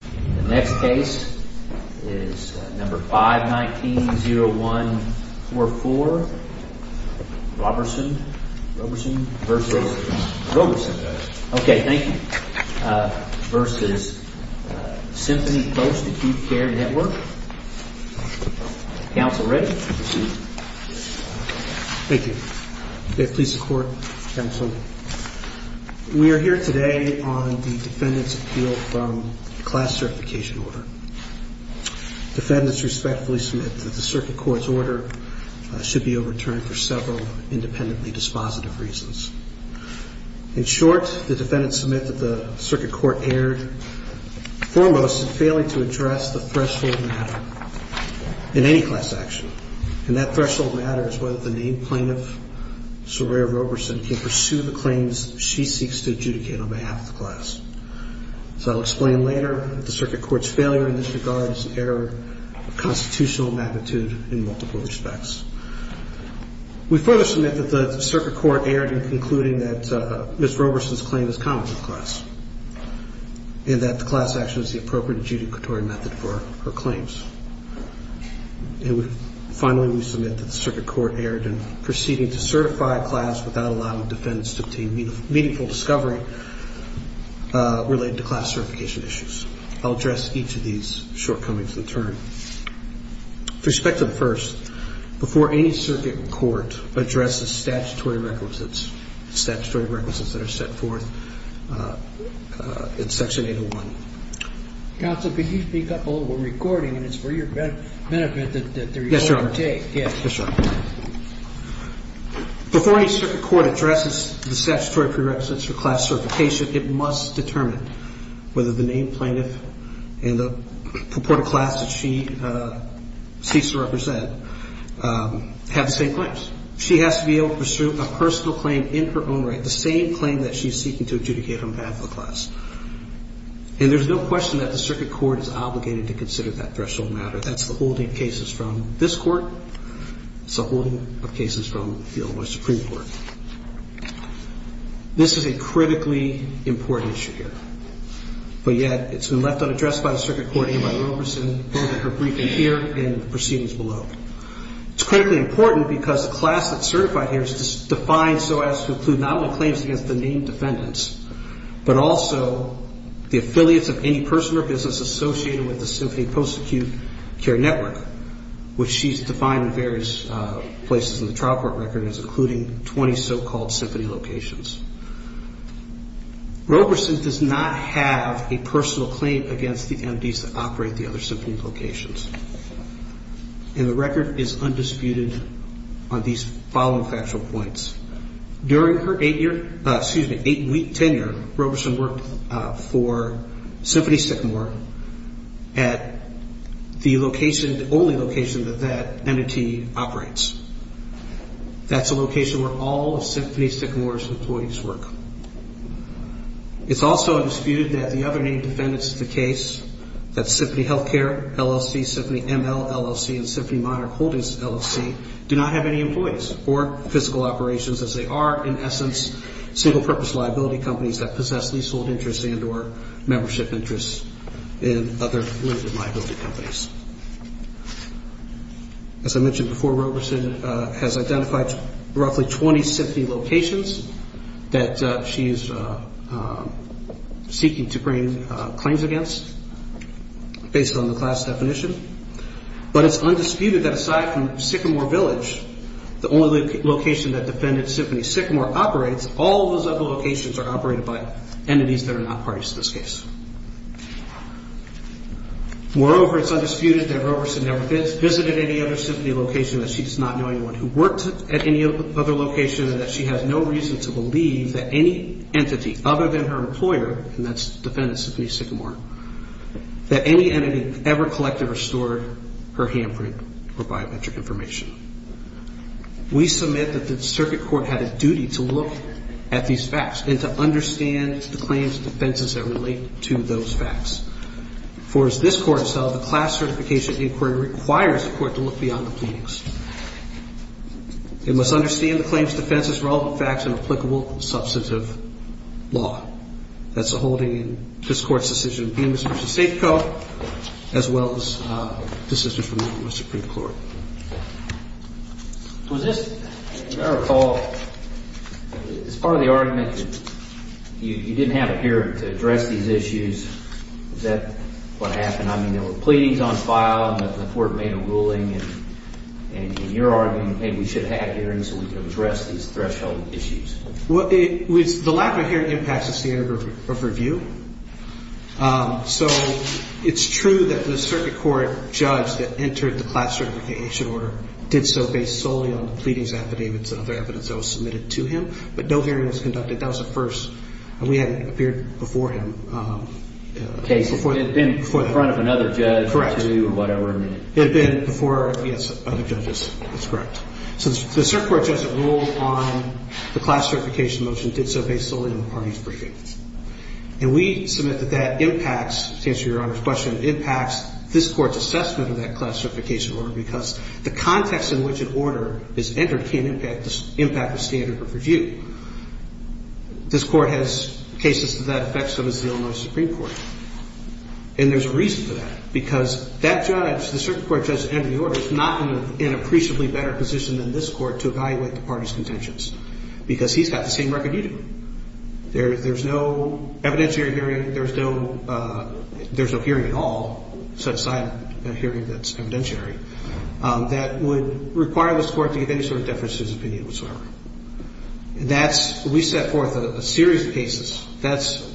The next case is number 519-0144, Roberson v. Symphony Post Acute Care Network. Counsel, ready? Thank you. May it please the court, counsel. We are here today on the defendant's appeal from class certification order. Defendants respectfully submit that the circuit court's order should be overturned for several independently dispositive reasons. In short, the defendants submit that the circuit court erred foremost in failing to address the threshold matter in any class action. And that threshold matter is whether the named plaintiff, Soraya Roberson, can pursue the claims she seeks to adjudicate on behalf of the class. So I'll explain later that the circuit court's failure in this regard is an error of constitutional magnitude in multiple respects. We further submit that the circuit court erred in concluding that Ms. Roberson's claim is common to the class. And that the class action is the appropriate adjudicatory method for her claims. And finally, we submit that the circuit court erred in proceeding to certify a class without allowing defendants to obtain meaningful discovery related to class certification issues. I'll address each of these shortcomings in turn. With respect to the first, before any circuit court addresses statutory requisites, statutory requisites that are set forth in section 801. Counsel, could you speak up a little while we're recording? And it's for your benefit that the recorder take. Yes, Your Honor. Yes, Your Honor. Before any circuit court addresses the statutory prerequisites for class certification, it must determine whether the named plaintiff and the purported class that she seeks to represent have the same claims. She has to be able to pursue a personal claim in her own right, the same claim that she's seeking to adjudicate on behalf of the class. And there's no question that the circuit court is obligated to consider that threshold matter. That's the holding of cases from this court. It's the holding of cases from the Illinois Supreme Court. This is a critically important issue here. But yet, it's been left unaddressed by the circuit court and by Roberson in her briefing here and proceedings below. It's critically important because the class that's certified here is defined so as to include not only claims against the named defendants, but also the affiliates of any person or business associated with the symphony post-acute care network, which she's defined in various places in the trial court record as including 20 so-called symphony locations. Roberson does not have a personal claim against the MDs that operate the other symphony locations. And the record is undisputed on these following factual points. During her eight-year, excuse me, eight-week tenure, Roberson worked for Symphony Sycamore at the location, the only location that that entity operates. That's a location where all of Symphony Sycamore's employees work. It's also undisputed that the other named defendants of the case, that's Symphony Healthcare LLC, as they are, in essence, single-purpose liability companies that possess leasehold interests and or membership interests in other limited liability companies. As I mentioned before, Roberson has identified roughly 20 symphony locations that she is seeking to bring claims against based on the class definition. But it's undisputed that aside from Sycamore Village, the only location that defendant Symphony Sycamore operates, all those other locations are operated by entities that are not parties to this case. Moreover, it's undisputed that Roberson never visited any other symphony location, that she does not know anyone who worked at any other location, and that she has no reason to believe that any entity other than her employer, and that's defendant Symphony Sycamore, that any entity ever collected or stored her handprint or biometric information. We submit that the circuit court had a duty to look at these facts and to understand the claims and defenses that relate to those facts. For as this court has held, the class certification inquiry requires the court to look beyond the pleadings. It must understand the claims, defenses, relevant facts and applicable substantive law. That's the holding in this court's decision of being Mr. and Mrs. Sycamore, as well as the decision from the Supreme Court. Was this, as I recall, as part of the argument that you didn't have a hearing to address these issues, is that what happened? I mean, there were pleadings on file, and the court made a ruling, and in your argument, hey, we should have hearings so we can address these threshold issues. Well, the lack of a hearing impacts the standard of review. So it's true that the circuit court judge that entered the class certification order did so based solely on the pleadings, affidavits and other evidence that was submitted to him, but no hearing was conducted. That was a first, and we hadn't appeared before him. Okay, so it had been before the front of another judge. Correct. It had been before, yes, other judges. That's correct. So the circuit court judge that ruled on the class certification motion did so based solely on the parties' briefings. And we submit that that impacts, to answer Your Honor's question, impacts this court's assessment of that class certification order because the context in which an order is entered can impact the standard of review. This court has cases to that effect, so does the Illinois Supreme Court. And there's a reason for that because that judge, the circuit court judge that entered the order, is not in an appreciably better position than this court to evaluate the parties' contentions because he's got the same record you do. There's no evidentiary hearing. There's no hearing at all, set aside a hearing that's evidentiary, that would require this court to give any sort of deference to his opinion whatsoever. That's, we set forth a series of cases. That's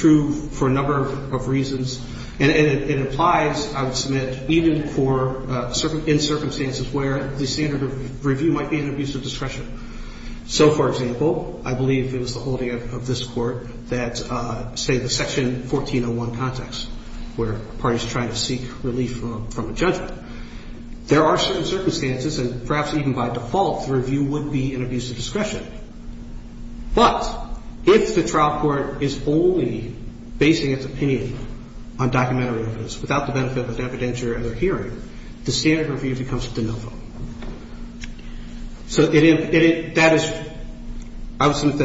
true for a number of reasons. And it applies, I would submit, even for certain, in circumstances where the standard of review might be an abuse of discretion. So, for example, I believe it was the holding of this court that, say, the Section 1401 context, where parties try to seek relief from a judgment. There are certain circumstances, and perhaps even by default, the review would be an abuse of discretion. But if the trial court is only basing its opinion on documentary evidence without the benefit of an evidentiary or other hearing, the standard of review becomes de novo. So that is, I would submit,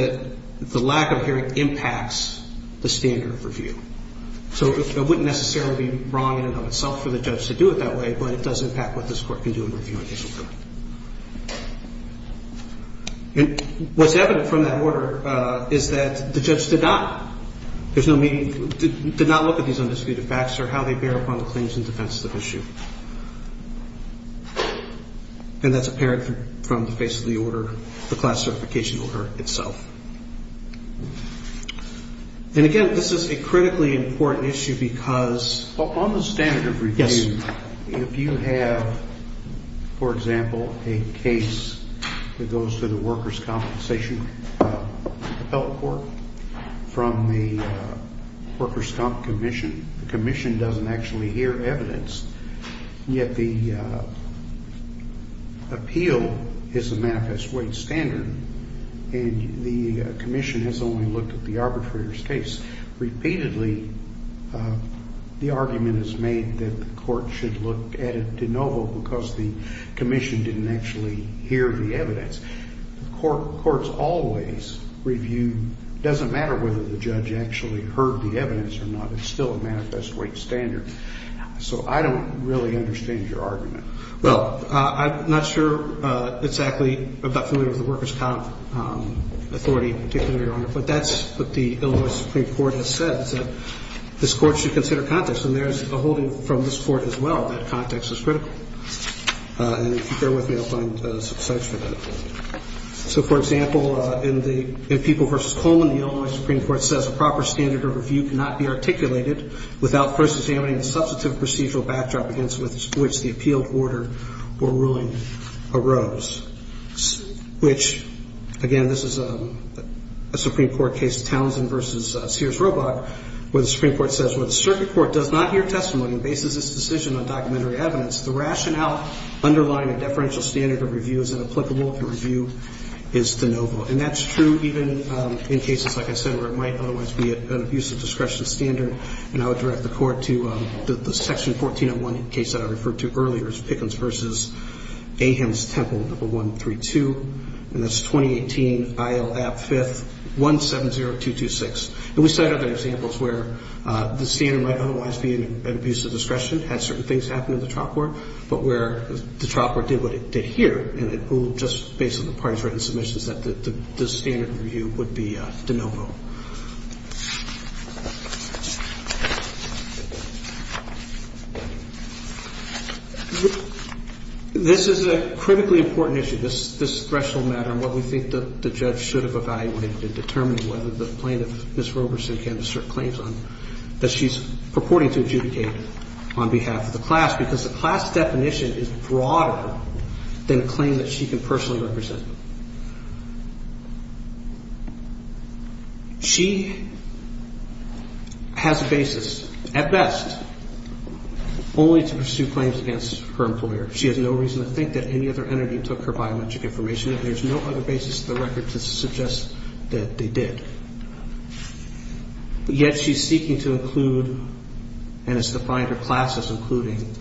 that the lack of hearing impacts the standard of review. So it wouldn't necessarily be wrong in and of itself for the judge to do it that way, but it does impact what this court can do in reviewing it. And what's evident from that order is that the judge did not, there's no meaning, did not look at these undisputed facts or how they bear upon the claims in defense of the issue. And that's apparent from the face of the order, the class certification order itself. And, again, this is a critically important issue because On the standard of review, if you have, for example, a case that goes to the workers' compensation appellate court from the workers' compensation commission, the commission doesn't actually hear evidence. Yet the appeal is a manifest weight standard, and the commission has only looked at the arbitrator's case. Repeatedly, the argument is made that the court should look at it de novo because the commission didn't actually hear the evidence. Courts always review. It doesn't matter whether the judge actually heard the evidence or not. It's still a manifest weight standard. So I don't really understand your argument. Well, I'm not sure exactly. But that's what the Illinois Supreme Court has said, is that this court should consider context. And there's a holding from this court as well that context is critical. And if you bear with me, I'll find some slides for that. So, for example, in People v. Coleman, the Illinois Supreme Court says a proper standard of review cannot be articulated without first examining the substantive procedural backdrop against which the appealed order or ruling arose. Which, again, this is a Supreme Court case, Townsend v. Sears-Robach, where the Supreme Court says, where the circuit court does not hear testimony and bases its decision on documentary evidence, the rationale underlying a deferential standard of review is inapplicable if the review is de novo. And that's true even in cases, like I said, where it might otherwise be an abuse of discretion standard. And I would direct the Court to the Section 1401 case that I referred to earlier as Pickens v. Ahems, Temple No. 132, and that's 2018, IL-AB 5th, 170226. And we cite other examples where the standard might otherwise be an abuse of discretion, had certain things happen in the trial court, but where the trial court did what it did here, and it ruled just based on the parties' written submissions that the standard of review would be de novo. This is a critically important issue, this threshold matter and what we think the judge should have evaluated in determining whether the plaintiff, Ms. Roberson, can assert claims that she's purporting to adjudicate on behalf of the class because the class definition is broader than a claim that she can personally represent. She has a basis, at best, only to pursue claims against her employer. She has no reason to think that any other entity took her biometric information and there's no other basis to the record to suggest that they did. Yet she's seeking to include and has defined her classes including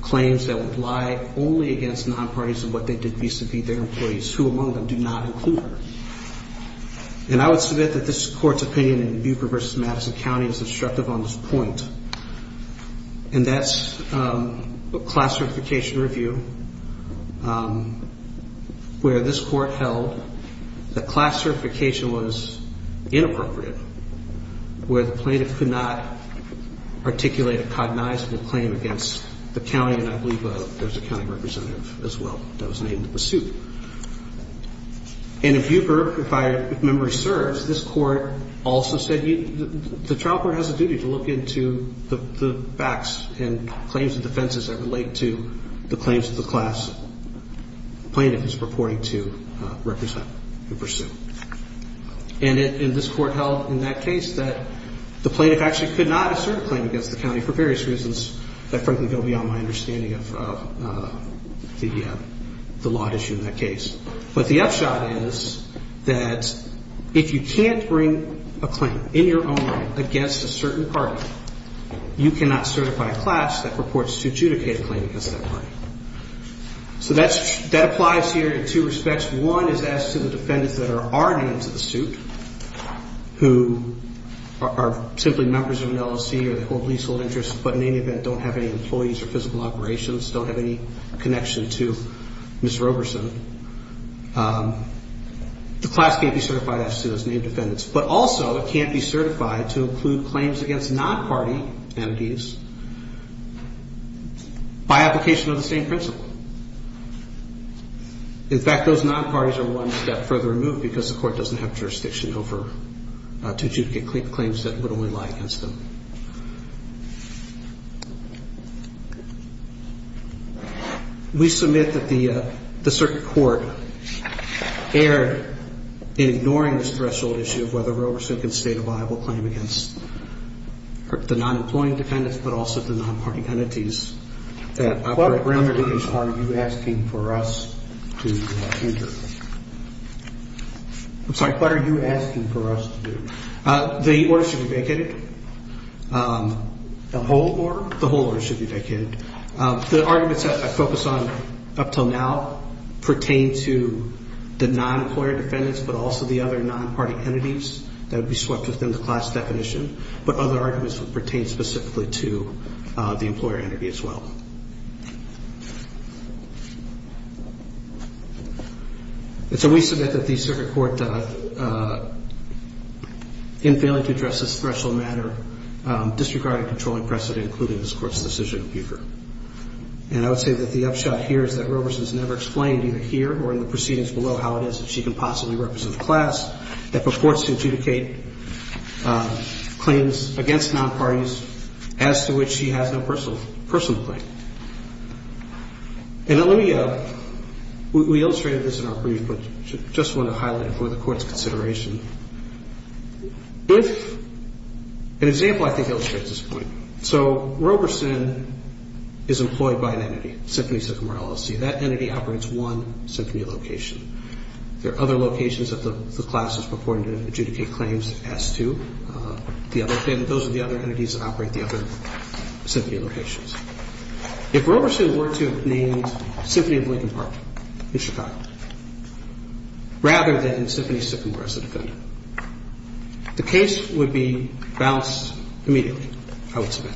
claims that would lie only against non-parties and what they did vis-a-vis their employees, who among them do not include her. And I would submit that this Court's opinion in Buper v. Madison County is instructive on this point, and that's a class certification review where this Court held that class certification was inappropriate, where the plaintiff could not articulate a cognizable claim against the county, and I believe there's a county representative as well that was named to pursue. And if Buper, if I remember, serves, this Court also said the trial court has a duty to look into the facts and claims and defenses that relate to the claims that the class plaintiff is purporting to represent and pursue. And this Court held in that case that the plaintiff actually could not assert a claim against the county for various reasons that frankly go beyond my understanding of the law at issue in that case. But the upshot is that if you can't bring a claim in your own right against a certain party, you cannot certify a class that purports to adjudicate a claim against that party. So that applies here in two respects. One is as to the defendants that are already under the suit who are simply members of an LLC or they hold leasehold interests, but in any event don't have any employees or physical operations, don't have any connection to Ms. Roberson. The class can't be certified as to those named defendants. But also it can't be certified to include claims against non-party entities by application of the same principle. In fact, those non-parties are one step further removed because the Court doesn't have jurisdiction over to adjudicate claims that would only lie against them. We submit that the circuit court erred in ignoring this threshold issue of whether Roberson can state a viable claim against the non-employing defendants but also the non-party entities that operate. What remedies are you asking for us to enter? I'm sorry. What are you asking for us to do? The order should be vacated. The whole order? The whole order should be vacated. The arguments that I focused on up until now pertain to the non-employer defendants but also the other non-party entities that would be swept within the class definition. But other arguments would pertain specifically to the employer entity as well. And so we submit that the circuit court in failing to address this threshold matter disregarded controlling precedent including this Court's decision in Bucher. And I would say that the upshot here is that Roberson's never explained either here or in the proceedings below how it is that she can possibly represent a class that purports to adjudicate claims against non-parties as to which she has no personal claim. And let me... We illustrated this in our brief but I just want to highlight it for the Court's consideration. If... An example I think illustrates this point. So Roberson is employed by an entity, Symphony Symphony LLC. That entity operates one symphony location. There are other locations that the class is purporting to adjudicate claims as to. Those are the other entities that operate the other symphony locations. If Roberson were to have named Symphony of Lincoln Park in Chicago rather than Symphony Syphomore as a defendant, the case would be balanced immediately. I would submit.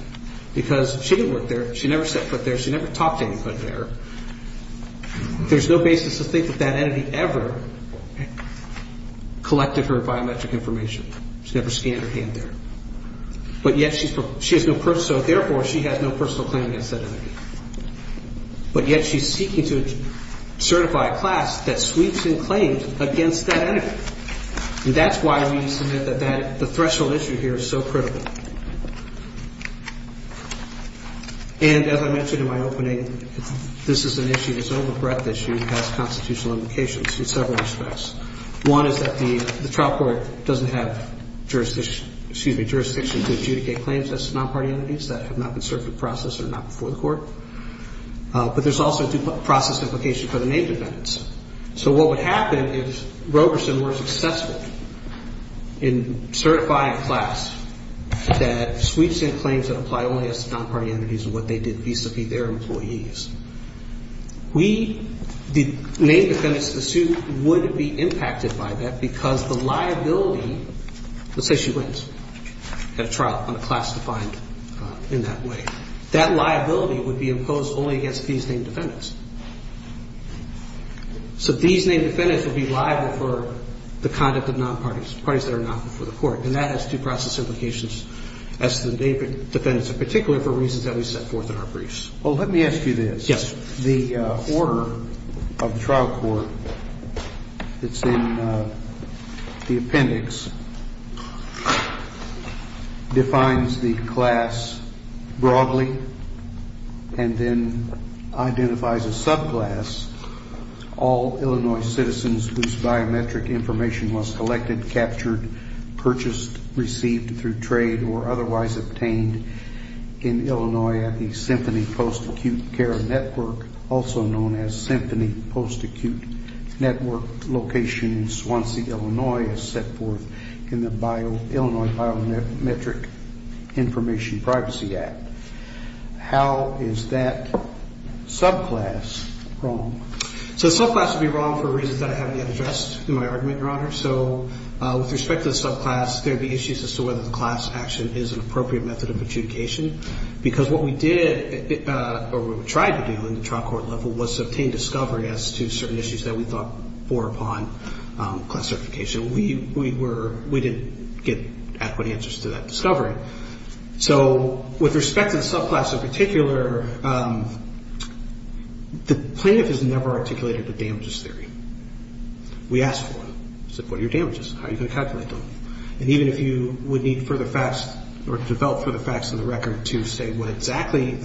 Because she didn't work there. She never set foot there. She never talked to anybody there. There's no basis to think that that entity ever collected her biometric information. She never scanned her hand there. But yet she has no personal... No personal claim against that entity. But yet she's seeking to certify a class that sweeps in claims against that entity. And that's why we submit that the threshold issue here is so critical. And as I mentioned in my opening, this is an issue that's over breadth issue and has constitutional implications in several respects. One is that the trial court doesn't have jurisdiction to adjudicate claims as to non-party entities that have not been served in process or not before the court. But there's also due process implications for the named defendants. So what would happen if Roberson were successful in certifying a class that sweeps in claims that apply only as to non-party entities and what they did vis-a-vis their employees, we, the named defendants, would be impacted by that because the liability... Let's say she wins at a trial on a class defined in that way. That liability would be imposed only against these named defendants. So these named defendants would be liable for the conduct of non-parties, parties that are not before the court. And that has due process implications as to the named defendants and particularly for reasons that we set forth in our briefs. Well, let me ask you this. Yes. The order of the trial court that's in the appendix defines the class broadly and then identifies a subclass all Illinois citizens whose biometric information was collected, captured, purchased, received through trade or otherwise obtained in Illinois at the also known as Symphony Post-Acute Network location in Swansea, Illinois as set forth in the Illinois Biometric Information Privacy Act. How is that subclass wrong? So the subclass would be wrong for reasons that I haven't yet addressed in my argument, Your Honor. So with respect to the subclass, there would be issues as to whether the class action is an appropriate method of adjudication because what we did or what we tried to do in the trial court level was to obtain discovery as to certain issues that we thought bore upon class certification. We didn't get adequate answers to that discovery. So with respect to the subclass in particular, the plaintiff has never articulated the damages theory. We asked for them. We said, what are your damages? How are you going to calculate them? And even if you would need further facts or develop further facts in the record to say what exactly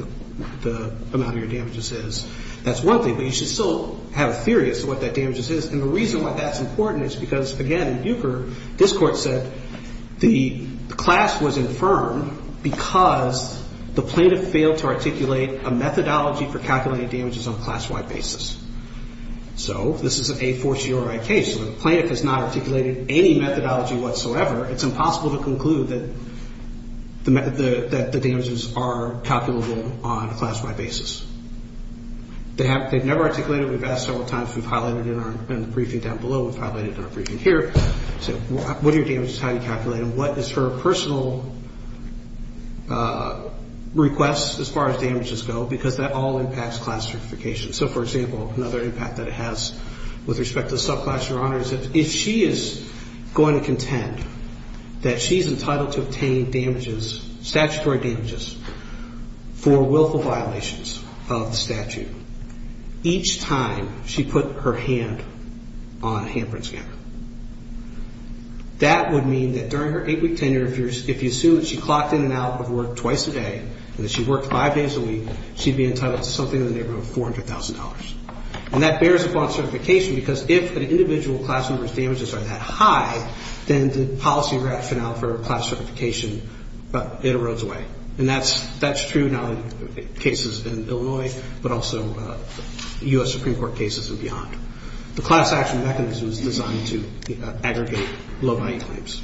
the amount of your damages is, that's one thing. But you should still have a theory as to what that damages is. And the reason why that's important is because, again, in Bucher, this Court said the class was infirmed because the plaintiff failed to articulate a methodology for calculating damages on a class-wide basis. So this is a fortiori case. So the plaintiff has not articulated any methodology whatsoever. It's impossible to conclude that the damages are calculable on a class-wide basis. They've never articulated it. We've asked several times. We've highlighted it in the briefing down below. We've highlighted it in our briefing here. We said, what are your damages? How do you calculate them? What is her personal request as far as damages go? Because that all impacts class certification. So, for example, another impact that it has with respect to the subclass, Your Honor, is that if she is going to contend that she's entitled to obtain damages, statutory damages, for willful violations of the statute, each time she put her hand on a handprint scanner, that would mean that during her eight-week tenure, if you assume that she clocked in and out of work twice a day and that she worked five days a week, she'd be entitled to something in the neighborhood of $400,000. And that bears upon certification because if an individual class member's damages are that high, then the policy rationale for class certification it erodes away. And that's true now in cases in Illinois, but also U.S. Supreme Court cases and beyond. The class action mechanism is designed to aggregate low-value claims.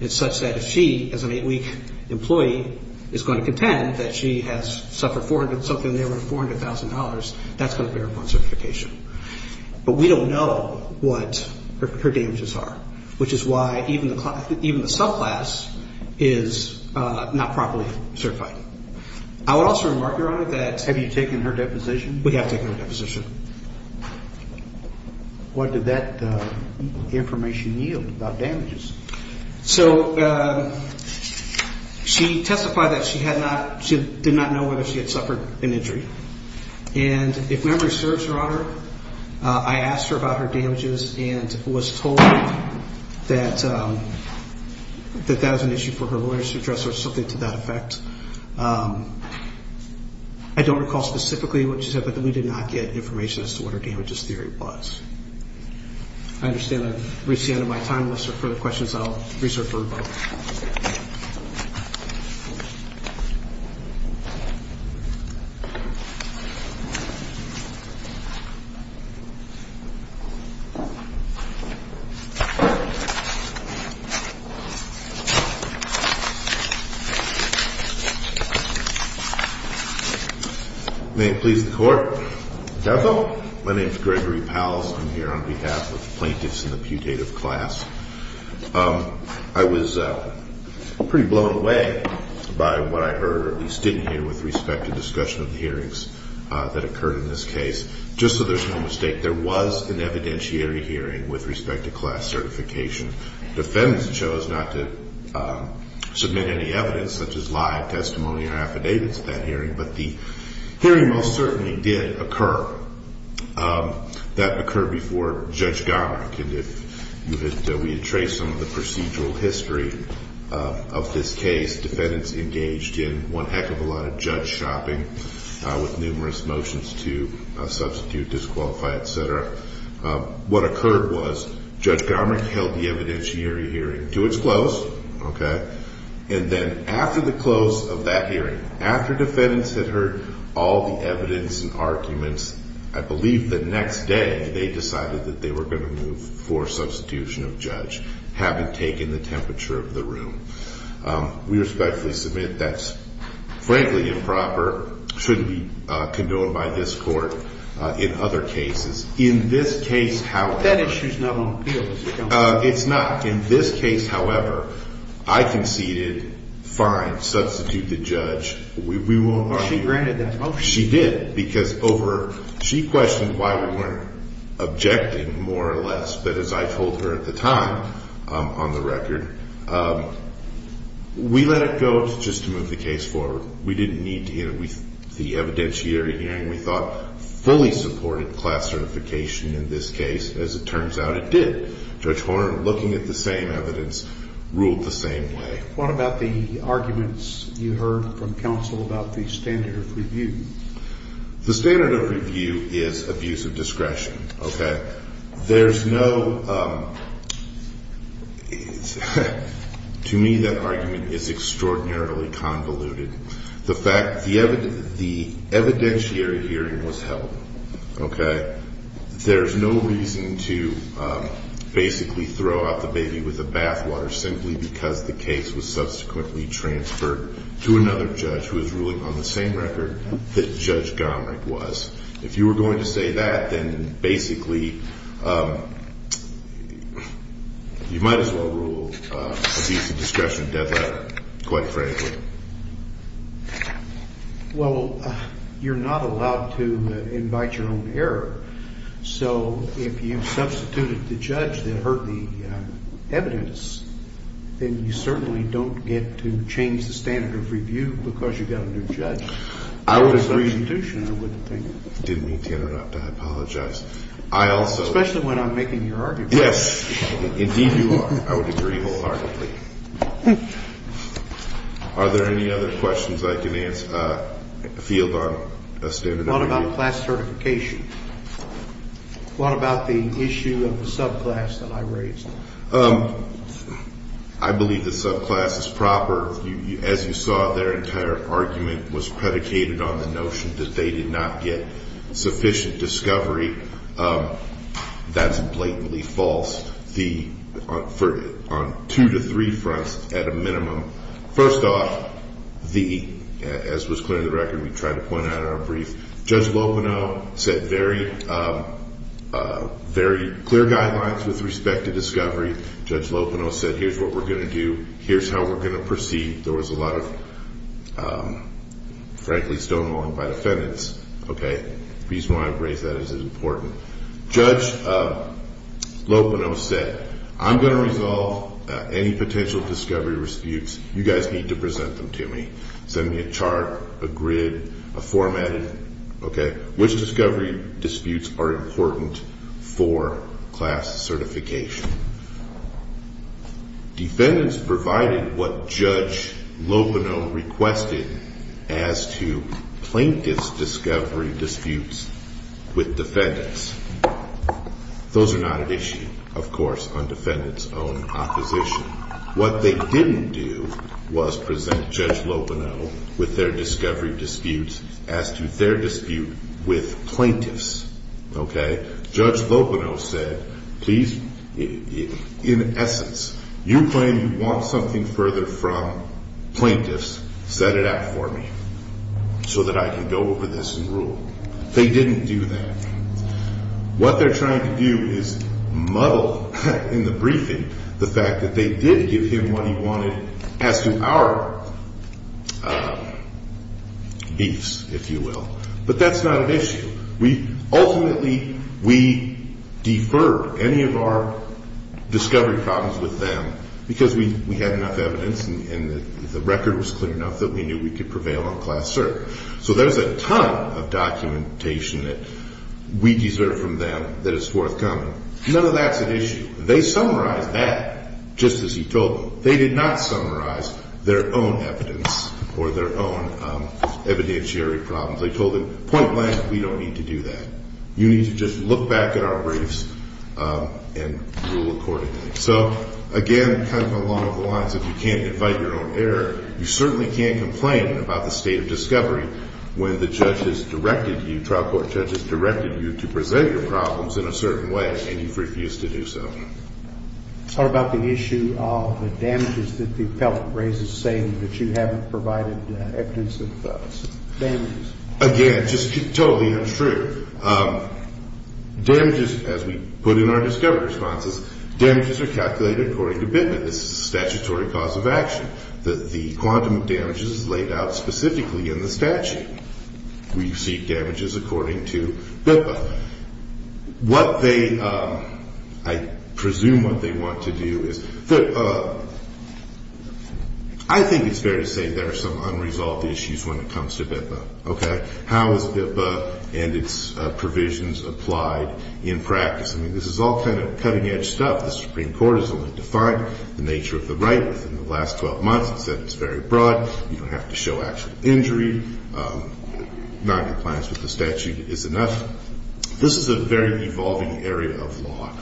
It's such that if she, as an eight-week employee, is going to contend that she has suffered something in the neighborhood of $400,000, that's going to bear upon certification. But we don't know what her damages are, which is why even the subclass is not properly certified. I would also remark, Your Honor, that... Have you taken her deposition? We have taken her deposition. What did that information yield about damages? So, she testified that she did not know whether she had suffered an injury. And if memory serves, Your Honor, I asked her about her damages and was told that that was an issue for her lawyer to address or something to that effect. I don't recall specifically what she said, but we did not get information as to what her damages theory was. I understand I've reached the end of my time. Unless there are further questions, I'll reserve for a vote. May it please the Court. My name is Gregory Powell. I'm here on behalf of the plaintiffs in the putative class. I was pretty blown away by what I heard, or at least didn't hear, with respect to discussion of the hearings that occurred in this case. to Class C. There was an evidentiary hearing with respect to Class D. The defendants chose not to submit any evidence, such as lie of testimony or affidavits at that hearing, but the hearing most certainly did occur. That occurred before Judge Garmick. We had traced some of the procedural history of this case. Defendants engaged in one heck of a lot of judge shopping with numerous motions to substitute, disqualify, etc. What occurred was Judge Garmick held the evidentiary hearing to its close, and then after the close of that hearing, after defendants had heard all the evidence and arguments, I believe the next day they decided that they were going to move for substitution of judge, having taken the temperature of the room. We respectfully submit that's frankly improper, should be condoned by this Court in other cases. In this case, however, it's not. In this case, however, I conceded, fine, substitute the judge. She granted that motion? She did. She questioned why we weren't objecting more or less, but as I told her at the time on the record, we let it go just to move the case forward. We didn't need to hear the evidentiary hearing. We thought fully supported class certification in this case. As it turns out, it did. Judge Horner, looking at the same evidence, ruled the same way. What about the arguments you heard from counsel about the standard of review? The standard of review is abuse of discretion. There's no to me that argument is extraordinarily convoluted. The fact, the evidentiary hearing was held. There's no reason to basically throw out the baby with the bathwater simply because the case was subsequently transferred to another judge who was ruling on the same record that Judge Gomerick was. If you were going to say that, then basically you might as well rule on abuse of discretion. Quite frankly. You're not allowed to invite your own error. If you substituted the judge that heard the evidence, then you certainly don't get to change the standard of review because you got a new judge. I wouldn't think I didn't mean to interrupt. I apologize. Especially when I'm making your argument. Yes, indeed you are. I would agree wholeheartedly. Are there any other questions I can ask field on a standard of review? What about class certification? What about the issue of the subclass that I raised? I believe the subclass is proper. As you saw, their entire argument was predicated on the notion that they did not get sufficient discovery. That's blatantly false. On two to three fronts at a minimum. First off, as was clear in the record we tried to point out in our brief, Judge Lopeno said very clear guidelines with respect to discovery. Judge Lopeno said here's what we're going to do. Here's how we're going to proceed. There was a lot of stonewalling by defendants. The reason why I raised that is it's important. Judge Lopeno said I'm going to resolve any potential discovery disputes. You guys need to present them to me. Send me a chart, a grid, a format. Which discovery disputes are important for class certification? Defendants provided what Judge Lopeno requested as to plaintiff's discovery disputes with defendants. Those are not an issue of course on defendants' own opposition. What they didn't do was present Judge Lopeno with their discovery disputes as to their dispute with plaintiffs. Judge Lopeno said please in essence, you claim you want something further from plaintiffs, set it up for me so that I can go over this and rule. They didn't do that. What they're trying to do is muddle in the briefing the fact that they did give him what he wanted as to our beefs if you will. But that's not an issue. Ultimately we deferred any of our discovery problems with them because we had enough evidence and the class cert. So there's a ton of documentation that we deserve from them that is forthcoming. None of that's an issue. They summarized that just as he told them. They did not summarize their own evidence or their own evidentiary problems. They told him point blank, we don't need to do that. You need to just look back at our briefs and rule accordingly. So again, kind of along the lines, if you can't invite your own error you certainly can't complain about the state of discovery when the judges directed you, trial court judges directed you to present your problems in a certain way and you've refused to do so. What about the issue of the damages that the appellant raises saying that you haven't provided evidence of damages? Again, just totally untrue. Damages, as we put in our discovery responses, damages are calculated according to commitment. This is a statutory cause of action. The quantum of damages is laid out specifically in the statute. We seek damages according to BIPA. What they I presume what they want to do is I think it's fair to say there are some unresolved issues when it comes to BIPA. How is BIPA and its provisions applied in practice? I mean this is all kind of cutting edge stuff. The Supreme Court has only clarified the nature of the right within the last 12 months and said it's very broad. You don't have to show actual injury. Non-compliance with the statute is enough. This is a very evolving area of law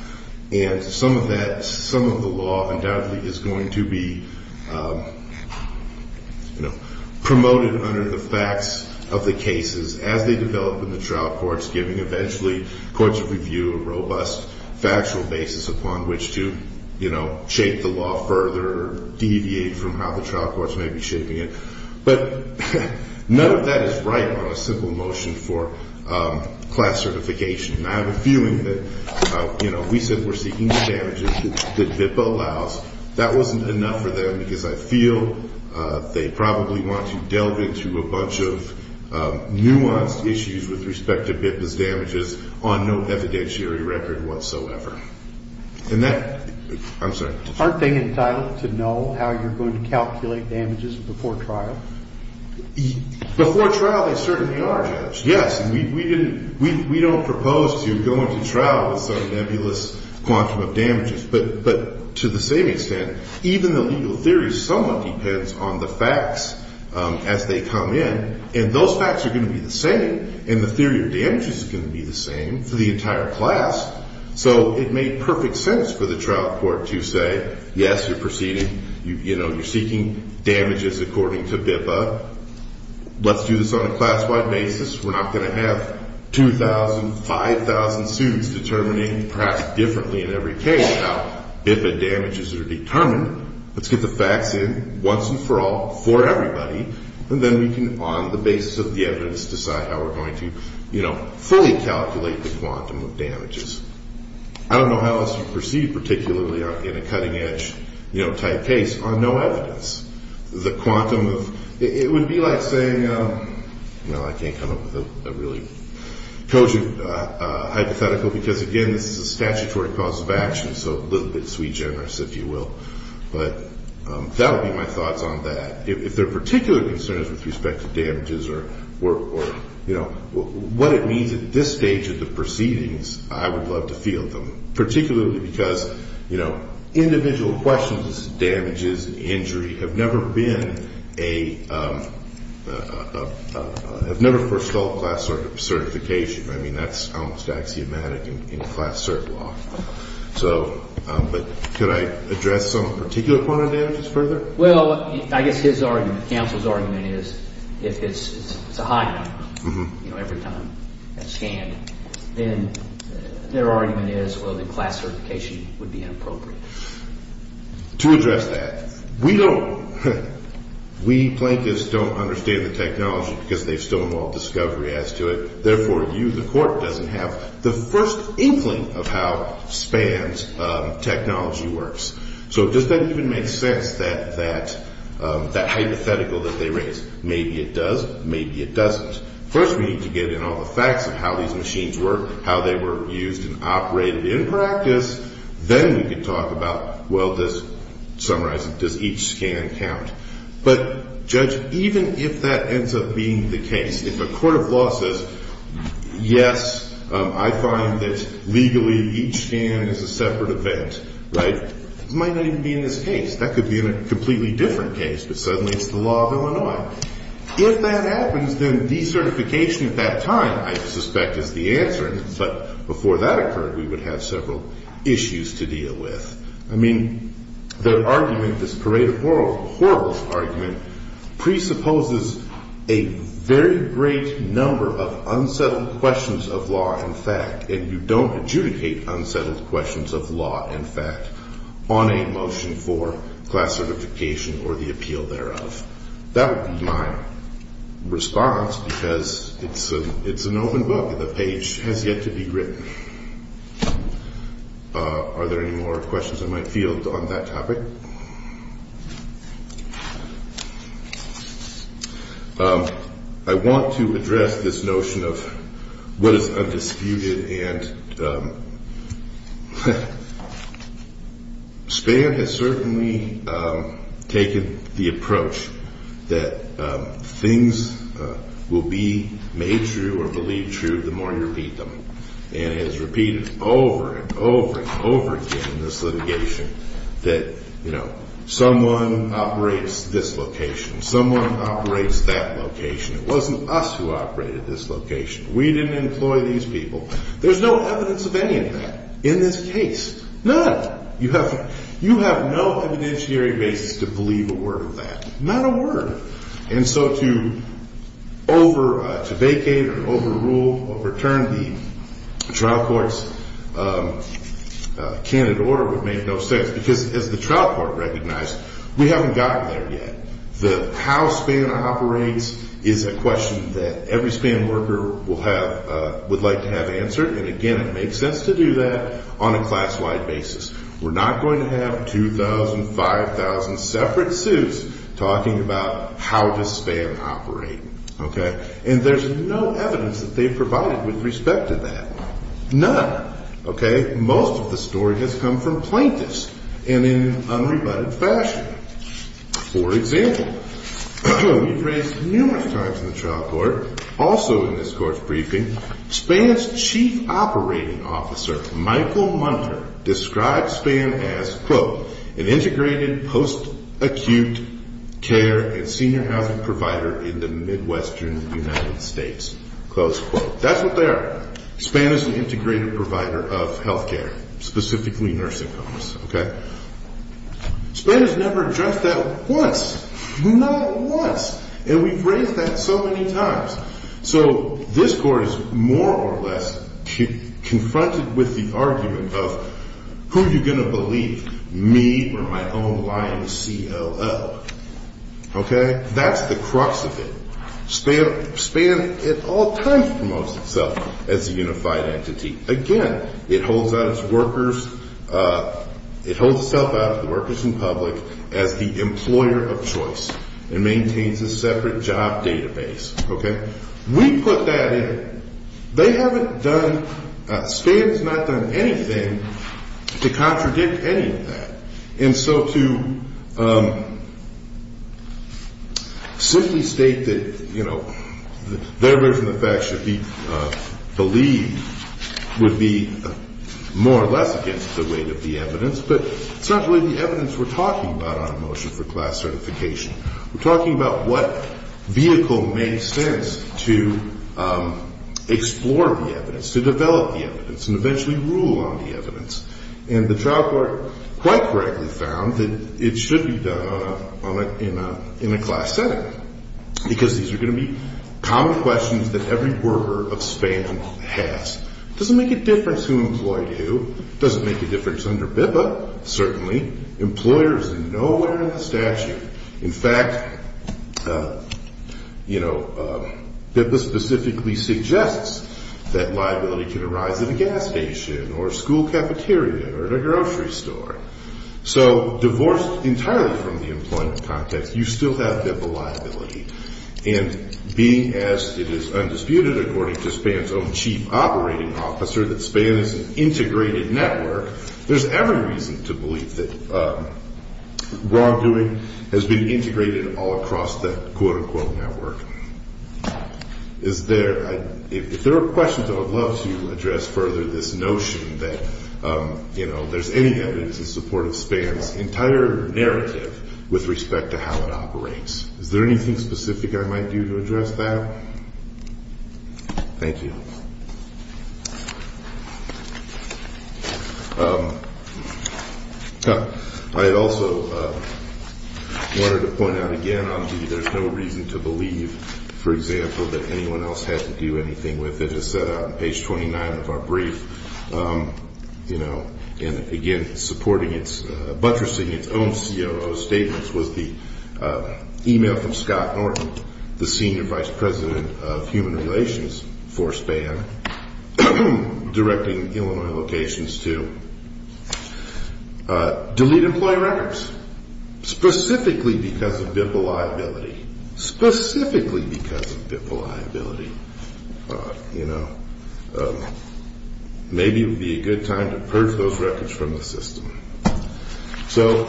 and some of that some of the law undoubtedly is going to be promoted under the facts of the cases as they develop in the trial courts giving eventually courts of review a robust factual basis upon which to shape the law further or deviate from how the trial courts may be shaping it. But none of that is right on a simple motion for class certification. I have a feeling that we said we're seeking the damages that BIPA allows. That wasn't enough for them because I feel they probably want to delve into a bunch of nuanced issues with respect to BIPA's damages on no evidentiary record whatsoever. Aren't they entitled to know how you're going to calculate damages before trial? Before trial they certainly are, Judge. Yes. We don't propose to go into trial with some nebulous quantum of damages. But to the same extent, even the legal theory somewhat depends on the facts as they come in. And those facts are going to be the same and the theory of damages is going to be the same for the entire class. So it made perfect sense for the trial court to say, yes you're seeking damages according to BIPA. Let's do this on a class-wide basis. We're not going to have 2,000, 5,000 students determining perhaps differently in every case how BIPA damages are determined. Let's get the facts in once and for all for everybody. And then we can on the basis of the evidence decide how we calculate the quantum of damages. I don't know how else you perceive particularly in a cutting-edge type case on no evidence the quantum of it would be like saying I can't come up with a really cogent hypothetical because again this is a statutory cause of action so a little bit sweet-generous if you will. That would be my thoughts on that. If there are particular concerns with respect to damages or what it means at this stage of the proceedings I would love to field them particularly because individual questions of damages and injury have never been a have never forestalled class certification. I mean that's almost axiomatic in class cert law. Could I address some particular quantum of damages further? I guess his argument, counsel's argument is if it's a high number every time it's scanned then their argument is well then class certification would be inappropriate. To address that, we don't we plaintiffs don't understand the technology because they've stolen all discovery as to it. Therefore you the court doesn't have the first inkling of how spans technology works. So does that even make sense that that hypothetical that they raise. Maybe it does, maybe it doesn't. First we need to get in all the facts of how these machines work how they were used and operated in practice. Then we can talk about well this summarizes, does each scan count? But judge, even if that ends up being the case, if a court of law says yes, I find that legally each scan is a separate event, right? It might not even be in this case. That could be in a completely different case, but suddenly it's the law of Illinois. If that happens then decertification at that time I suspect is the answer, but before that occurred we would have several issues to deal with. I mean the argument this parade of horribles argument presupposes a very great number of unsettled questions of law and fact and you don't adjudicate unsettled questions of law and fact on a motion for class certification or the appeal thereof. That would be my response because it's an open book. The page has yet to be written. Are there any more questions I might field on that topic? I want to address this notion of what is undisputed and Spare has certainly taken the approach that things will be made true or believed true the more you repeat them and has repeated over and over and over again this litigation that someone operates this location. Someone operates that location. It wasn't us who operated this location. We didn't employ these people. There's no evidence of any of that in this case. None. You have no evidentiary basis to believe a word of that. Not a word. And so to over vacate or over rule or overturn the trial courts candid order would make no sense because as the trial court recognized we haven't gotten there yet. The how Spare operates is a question that every Spare worker will have would like to have answered and again it makes sense to do that on a class wide basis. We're not going to have 2,000, 5,000 separate suits talking about how does Spare operate. And there's no evidence that they've provided with respect to that. None. Most of the story has come from plaintiffs and in unrebutted fashion. For example, we've raised numerous times in the trial court also in this court's briefing Spare's chief operating officer, Michael Munter described Spare as an integrated post acute care and senior housing provider in the Midwestern United States. That's what they are. Spare is an integrated provider of healthcare, specifically nursing homes. Spare has never addressed that once. Not once. And we've raised that so many times. So this court is more or less confronted with the argument of who are you going to believe? Me or my own lying CLL. That's the crux of it. Spare at all times promotes itself as a unified entity. Again, it holds itself out to the workers and public as the employer of choice and maintains a separate job database. We put that in. They haven't done Spare has not done anything to contradict any of that. And so to simply state that their version of the fact should be believed would be more or less against the weight of the evidence but it's not really the evidence we're talking about on a motion for class certification. We're talking about what vehicle makes sense to explore the evidence, to develop the evidence and eventually rule on the evidence. And the trial court quite correctly found that it should be done in a class setting because these are going to be common questions that every worker of Spam has. It doesn't make a difference who employed who. It doesn't make a difference under BIPA certainly. Employers are nowhere in the statute. In fact you know BIPA specifically suggests that liability can arise at a gas station or a school cafeteria or at a grocery store. So divorced entirely from the employment context, you still have BIPA liability and being as it is undisputed according to Spam's own chief operating officer that Spam is an integrated network, there's every reason to believe that wrongdoing has been integrated all across that quote unquote network. If there are questions I would love to address further this notion that you know there's any evidence in support of Spam's entire narrative with respect to how it operates. Is there anything specific I might do to address that? Thank you. I also wanted to point out again on the there's no reason to believe for example that anyone else had to do anything with it as set out on page 29 of our brief you know again supporting its, buttressing its own COO statements was the email from Scott Norton, the senior vice president of human relations for Spam directing Illinois locations to delete employee records specifically because of BIPA liability specifically because of BIPA liability you know maybe it would be a good time to purge those records from the system so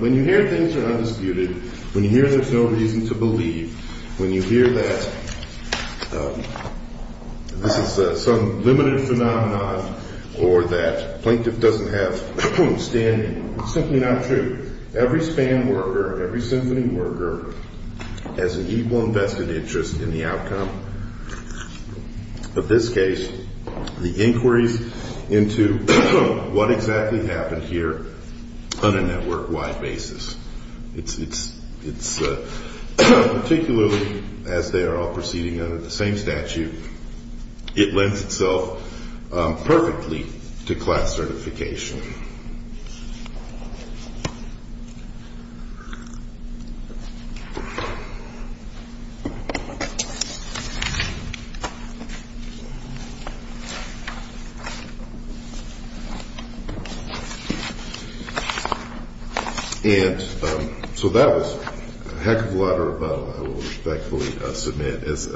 when you hear things are undisputed, when you hear there's no reason to believe, when you hear that this is some limited phenomenon or that plaintiff doesn't have standing it's simply not true every Spam worker, every symphony worker has an equal and vested interest in the outcome of this case the inquiries into what exactly happened here on a network wide basis it's particularly as they are all proceeding under the same statute it lends itself perfectly to class certification and so that was a heck of a lot of rebuttal I will respectfully submit as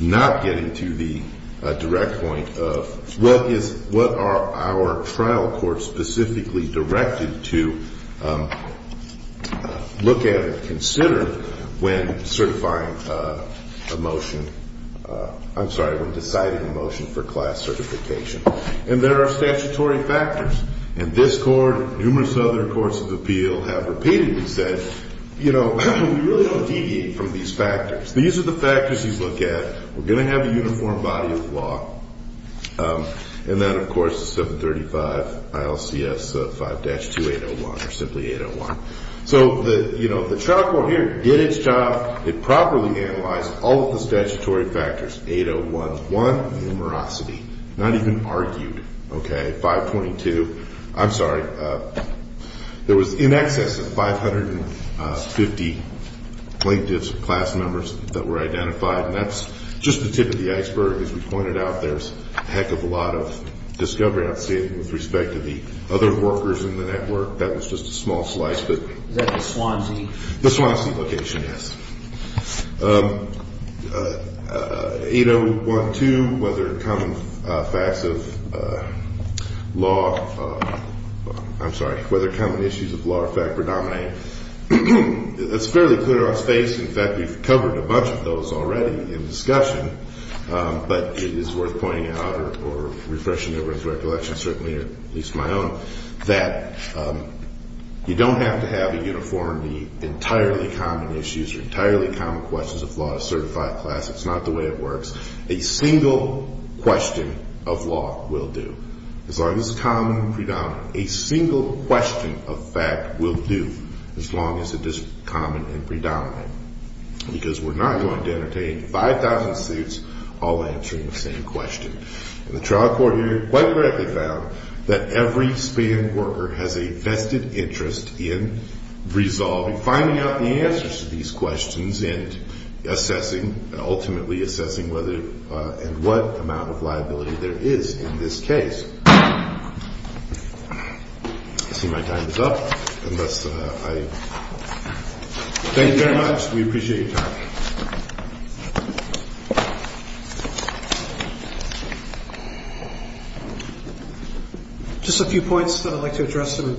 not getting to the direct point of what are our trial courts specifically directed to look at and consider when certifying a motion I'm sorry, when deciding a motion for class certification and there are statutory factors and this court and numerous other courts of appeal have repeatedly said you know we really don't deviate from these factors these are the factors you look at we're going to have a uniform body of law and then of course the 735 ILCS 5-2801 or simply 801 so the trial court here did its job it properly analyzed all of the statutory factors, 801 one, numerosity not even argued 522 I'm sorry there was in excess of 550 plaintiffs class members that were identified and that's just the tip of the iceberg as we pointed out there's a heck of a lot of discovery with respect to the other workers in the network that was just a small slice the Swansea location yes 8012 whether common facts of law I'm sorry, whether common issues of law are fact predominant it's fairly clear on its face in fact we've covered a bunch of those already in discussion but it is worth pointing out or refreshing everyone's recollection certainly at least my own that you don't have to have a uniform entirely common issues entirely common questions of law it's not the way it works a single question of law will do as long as it's common and predominant a single question of fact will do as long as it is common and predominant because we're not going to entertain 5000 suits all answering the same question the trial court here quite correctly found that every Span worker has a vested interest in resolving finding out the answers to these questions and assessing ultimately assessing whether what amount of liability there is in this case I see my time is up thank you very much we appreciate your time just a few points I'd like to address them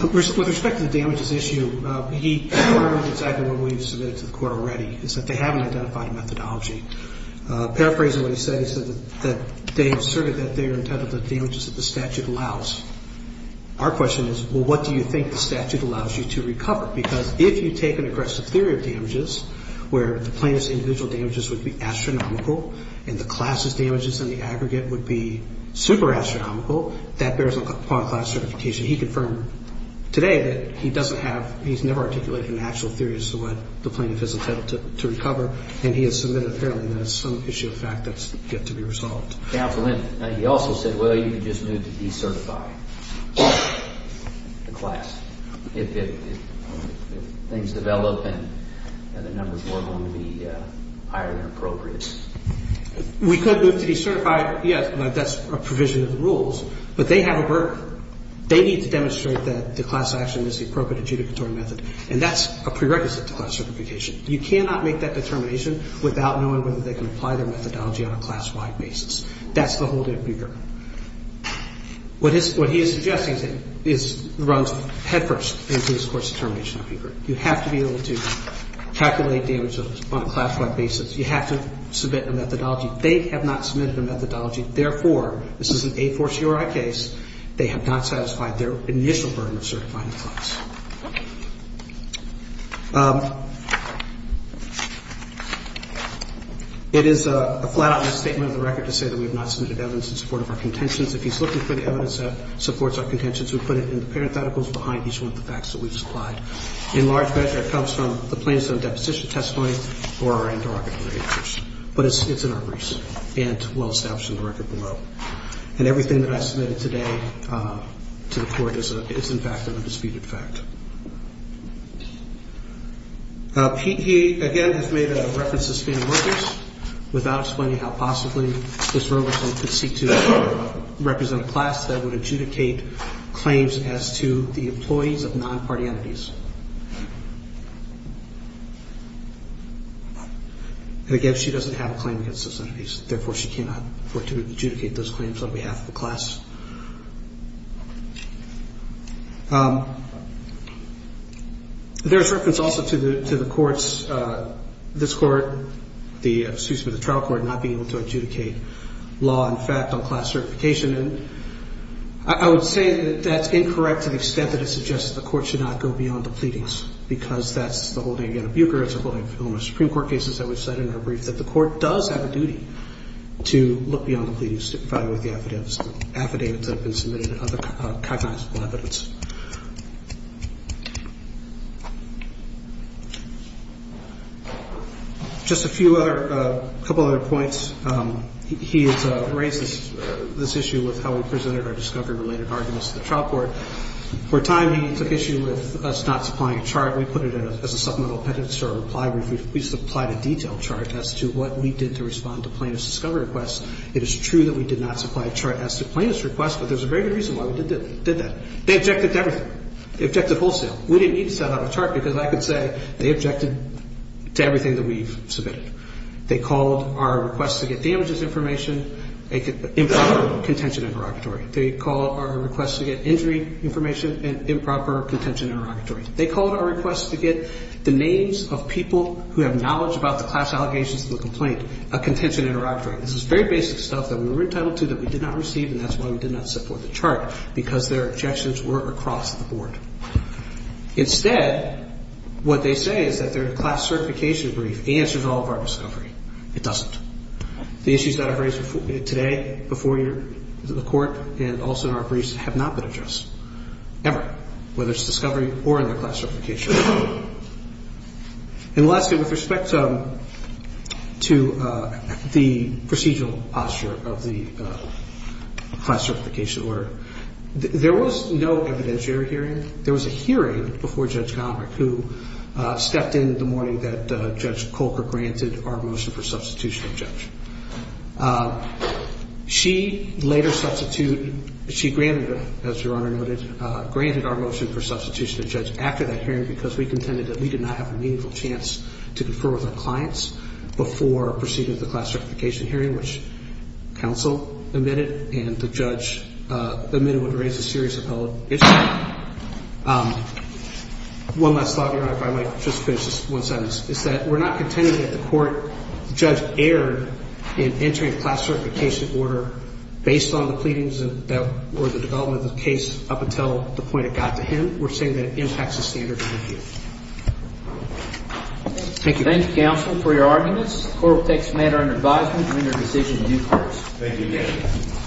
both with respect to the damages issue we've submitted to the court already is that they haven't identified a methodology paraphrasing what he said he said that they asserted that they're entitled to damages that the statute allows our question is what do you think the statute allows you to recover because if you take an aggressive theory of damages where the plaintiff's individual damages would be astronomical and the class's damages in the aggregate would be super astronomical that bears upon class certification he confirmed today that he doesn't have, he's never articulated an actual theory as to what the plaintiff is entitled to recover and he has submitted apparently that it's some issue of fact that's yet to be resolved. Counsel, he also said well you could just move to decertify the class if things develop and the numbers were going to be higher than appropriate we could move to decertify yes, that's a provision of the rules but they have a burden they need to demonstrate that the class action is the appropriate adjudicatory method and that's a prerequisite to class certification you cannot make that determination without knowing whether they can apply their methodology on a class-wide basis. That's the whole debate here what he is suggesting is runs head first into his court's determination on paper. You have to be able to calculate damages on a class-wide basis. You have to submit a methodology they have not submitted a methodology therefore, this is an A4CRI case, they have not satisfied their initial burden of certifying the class it is a flat out misstatement of the record to say that we have not submitted evidence in support of our contentions. If he's looking for the evidence that supports our contentions we put it in the parent articles behind each one of the facts that we've supplied in large measure it comes from the parent articles but it's in our receipt and well established in the record below and everything that I submitted today to the court is in fact an undisputed fact he again has made a reference to workers without explaining how possibly this rule could seek to represent a class that would adjudicate claims as to the employees of non-party entities and again, she doesn't have a claim against those entities therefore, she cannot work to adjudicate those claims on behalf of the class there's reference also to the courts, this court excuse me, the trial court not being able to adjudicate law in fact on class certification I would say that that's incorrect to the extent that it suggests that the court should not go beyond the pleadings because that's the holding of Anna Buecher it's the holding of Illinois Supreme Court cases that we've said in our brief that the court does have a duty to look beyond the pleadings to file with the affidavits that have been submitted and other cognizable evidence just a few other a couple other points he has raised this issue with how we presented our discovery related arguments to the trial court for a time he took issue with us not supplying a chart we put it as a supplemental appendix to our reply brief we supplied a detailed chart as to what we did to respond to plaintiff's discovery request it is true that we did not supply a chart as to plaintiff's request but there's a very good reason why we did that they objected to everything, they objected wholesale we didn't need to send out a chart because I could say they objected to everything that we've submitted, they called our request to get damages information improper contention interrogatory they called our request to get injury information and improper contention interrogatory they called our request to get the names of people who have knowledge about the class allegations of the complaint, a contention interrogatory this is very basic stuff that we were entitled to that we did not receive and that's why we did not support the chart because their objections were across the board instead, what they say is that their class certification brief answers all of our discovery, it doesn't the issues that I've raised today before the court and also in our briefs have not been addressed ever, whether it's discovery or in their class certification order and lastly with respect to the procedural posture of the class certification order there was no evidentiary hearing there was a hearing before Judge Conrad who stepped in the morning that Judge Kolker granted our motion for substitution of judge she later substituted she granted, as your honor noted granted our motion for substitution of judge after that hearing because we contended that we did not have a meaningful chance to confer with our clients before proceeding with the class certification hearing which counsel admitted and the judge admitted would raise a serious appellate issue one last thought your honor if I might just finish one sentence, is that we're not contending that the court judge erred in entering a class certification order based on the pleadings or the development of the case up until the point it got to him we're saying that it impacts the standard of review thank you thank you counsel for your arguments the court will take this matter under advisement during your decision due course thank you again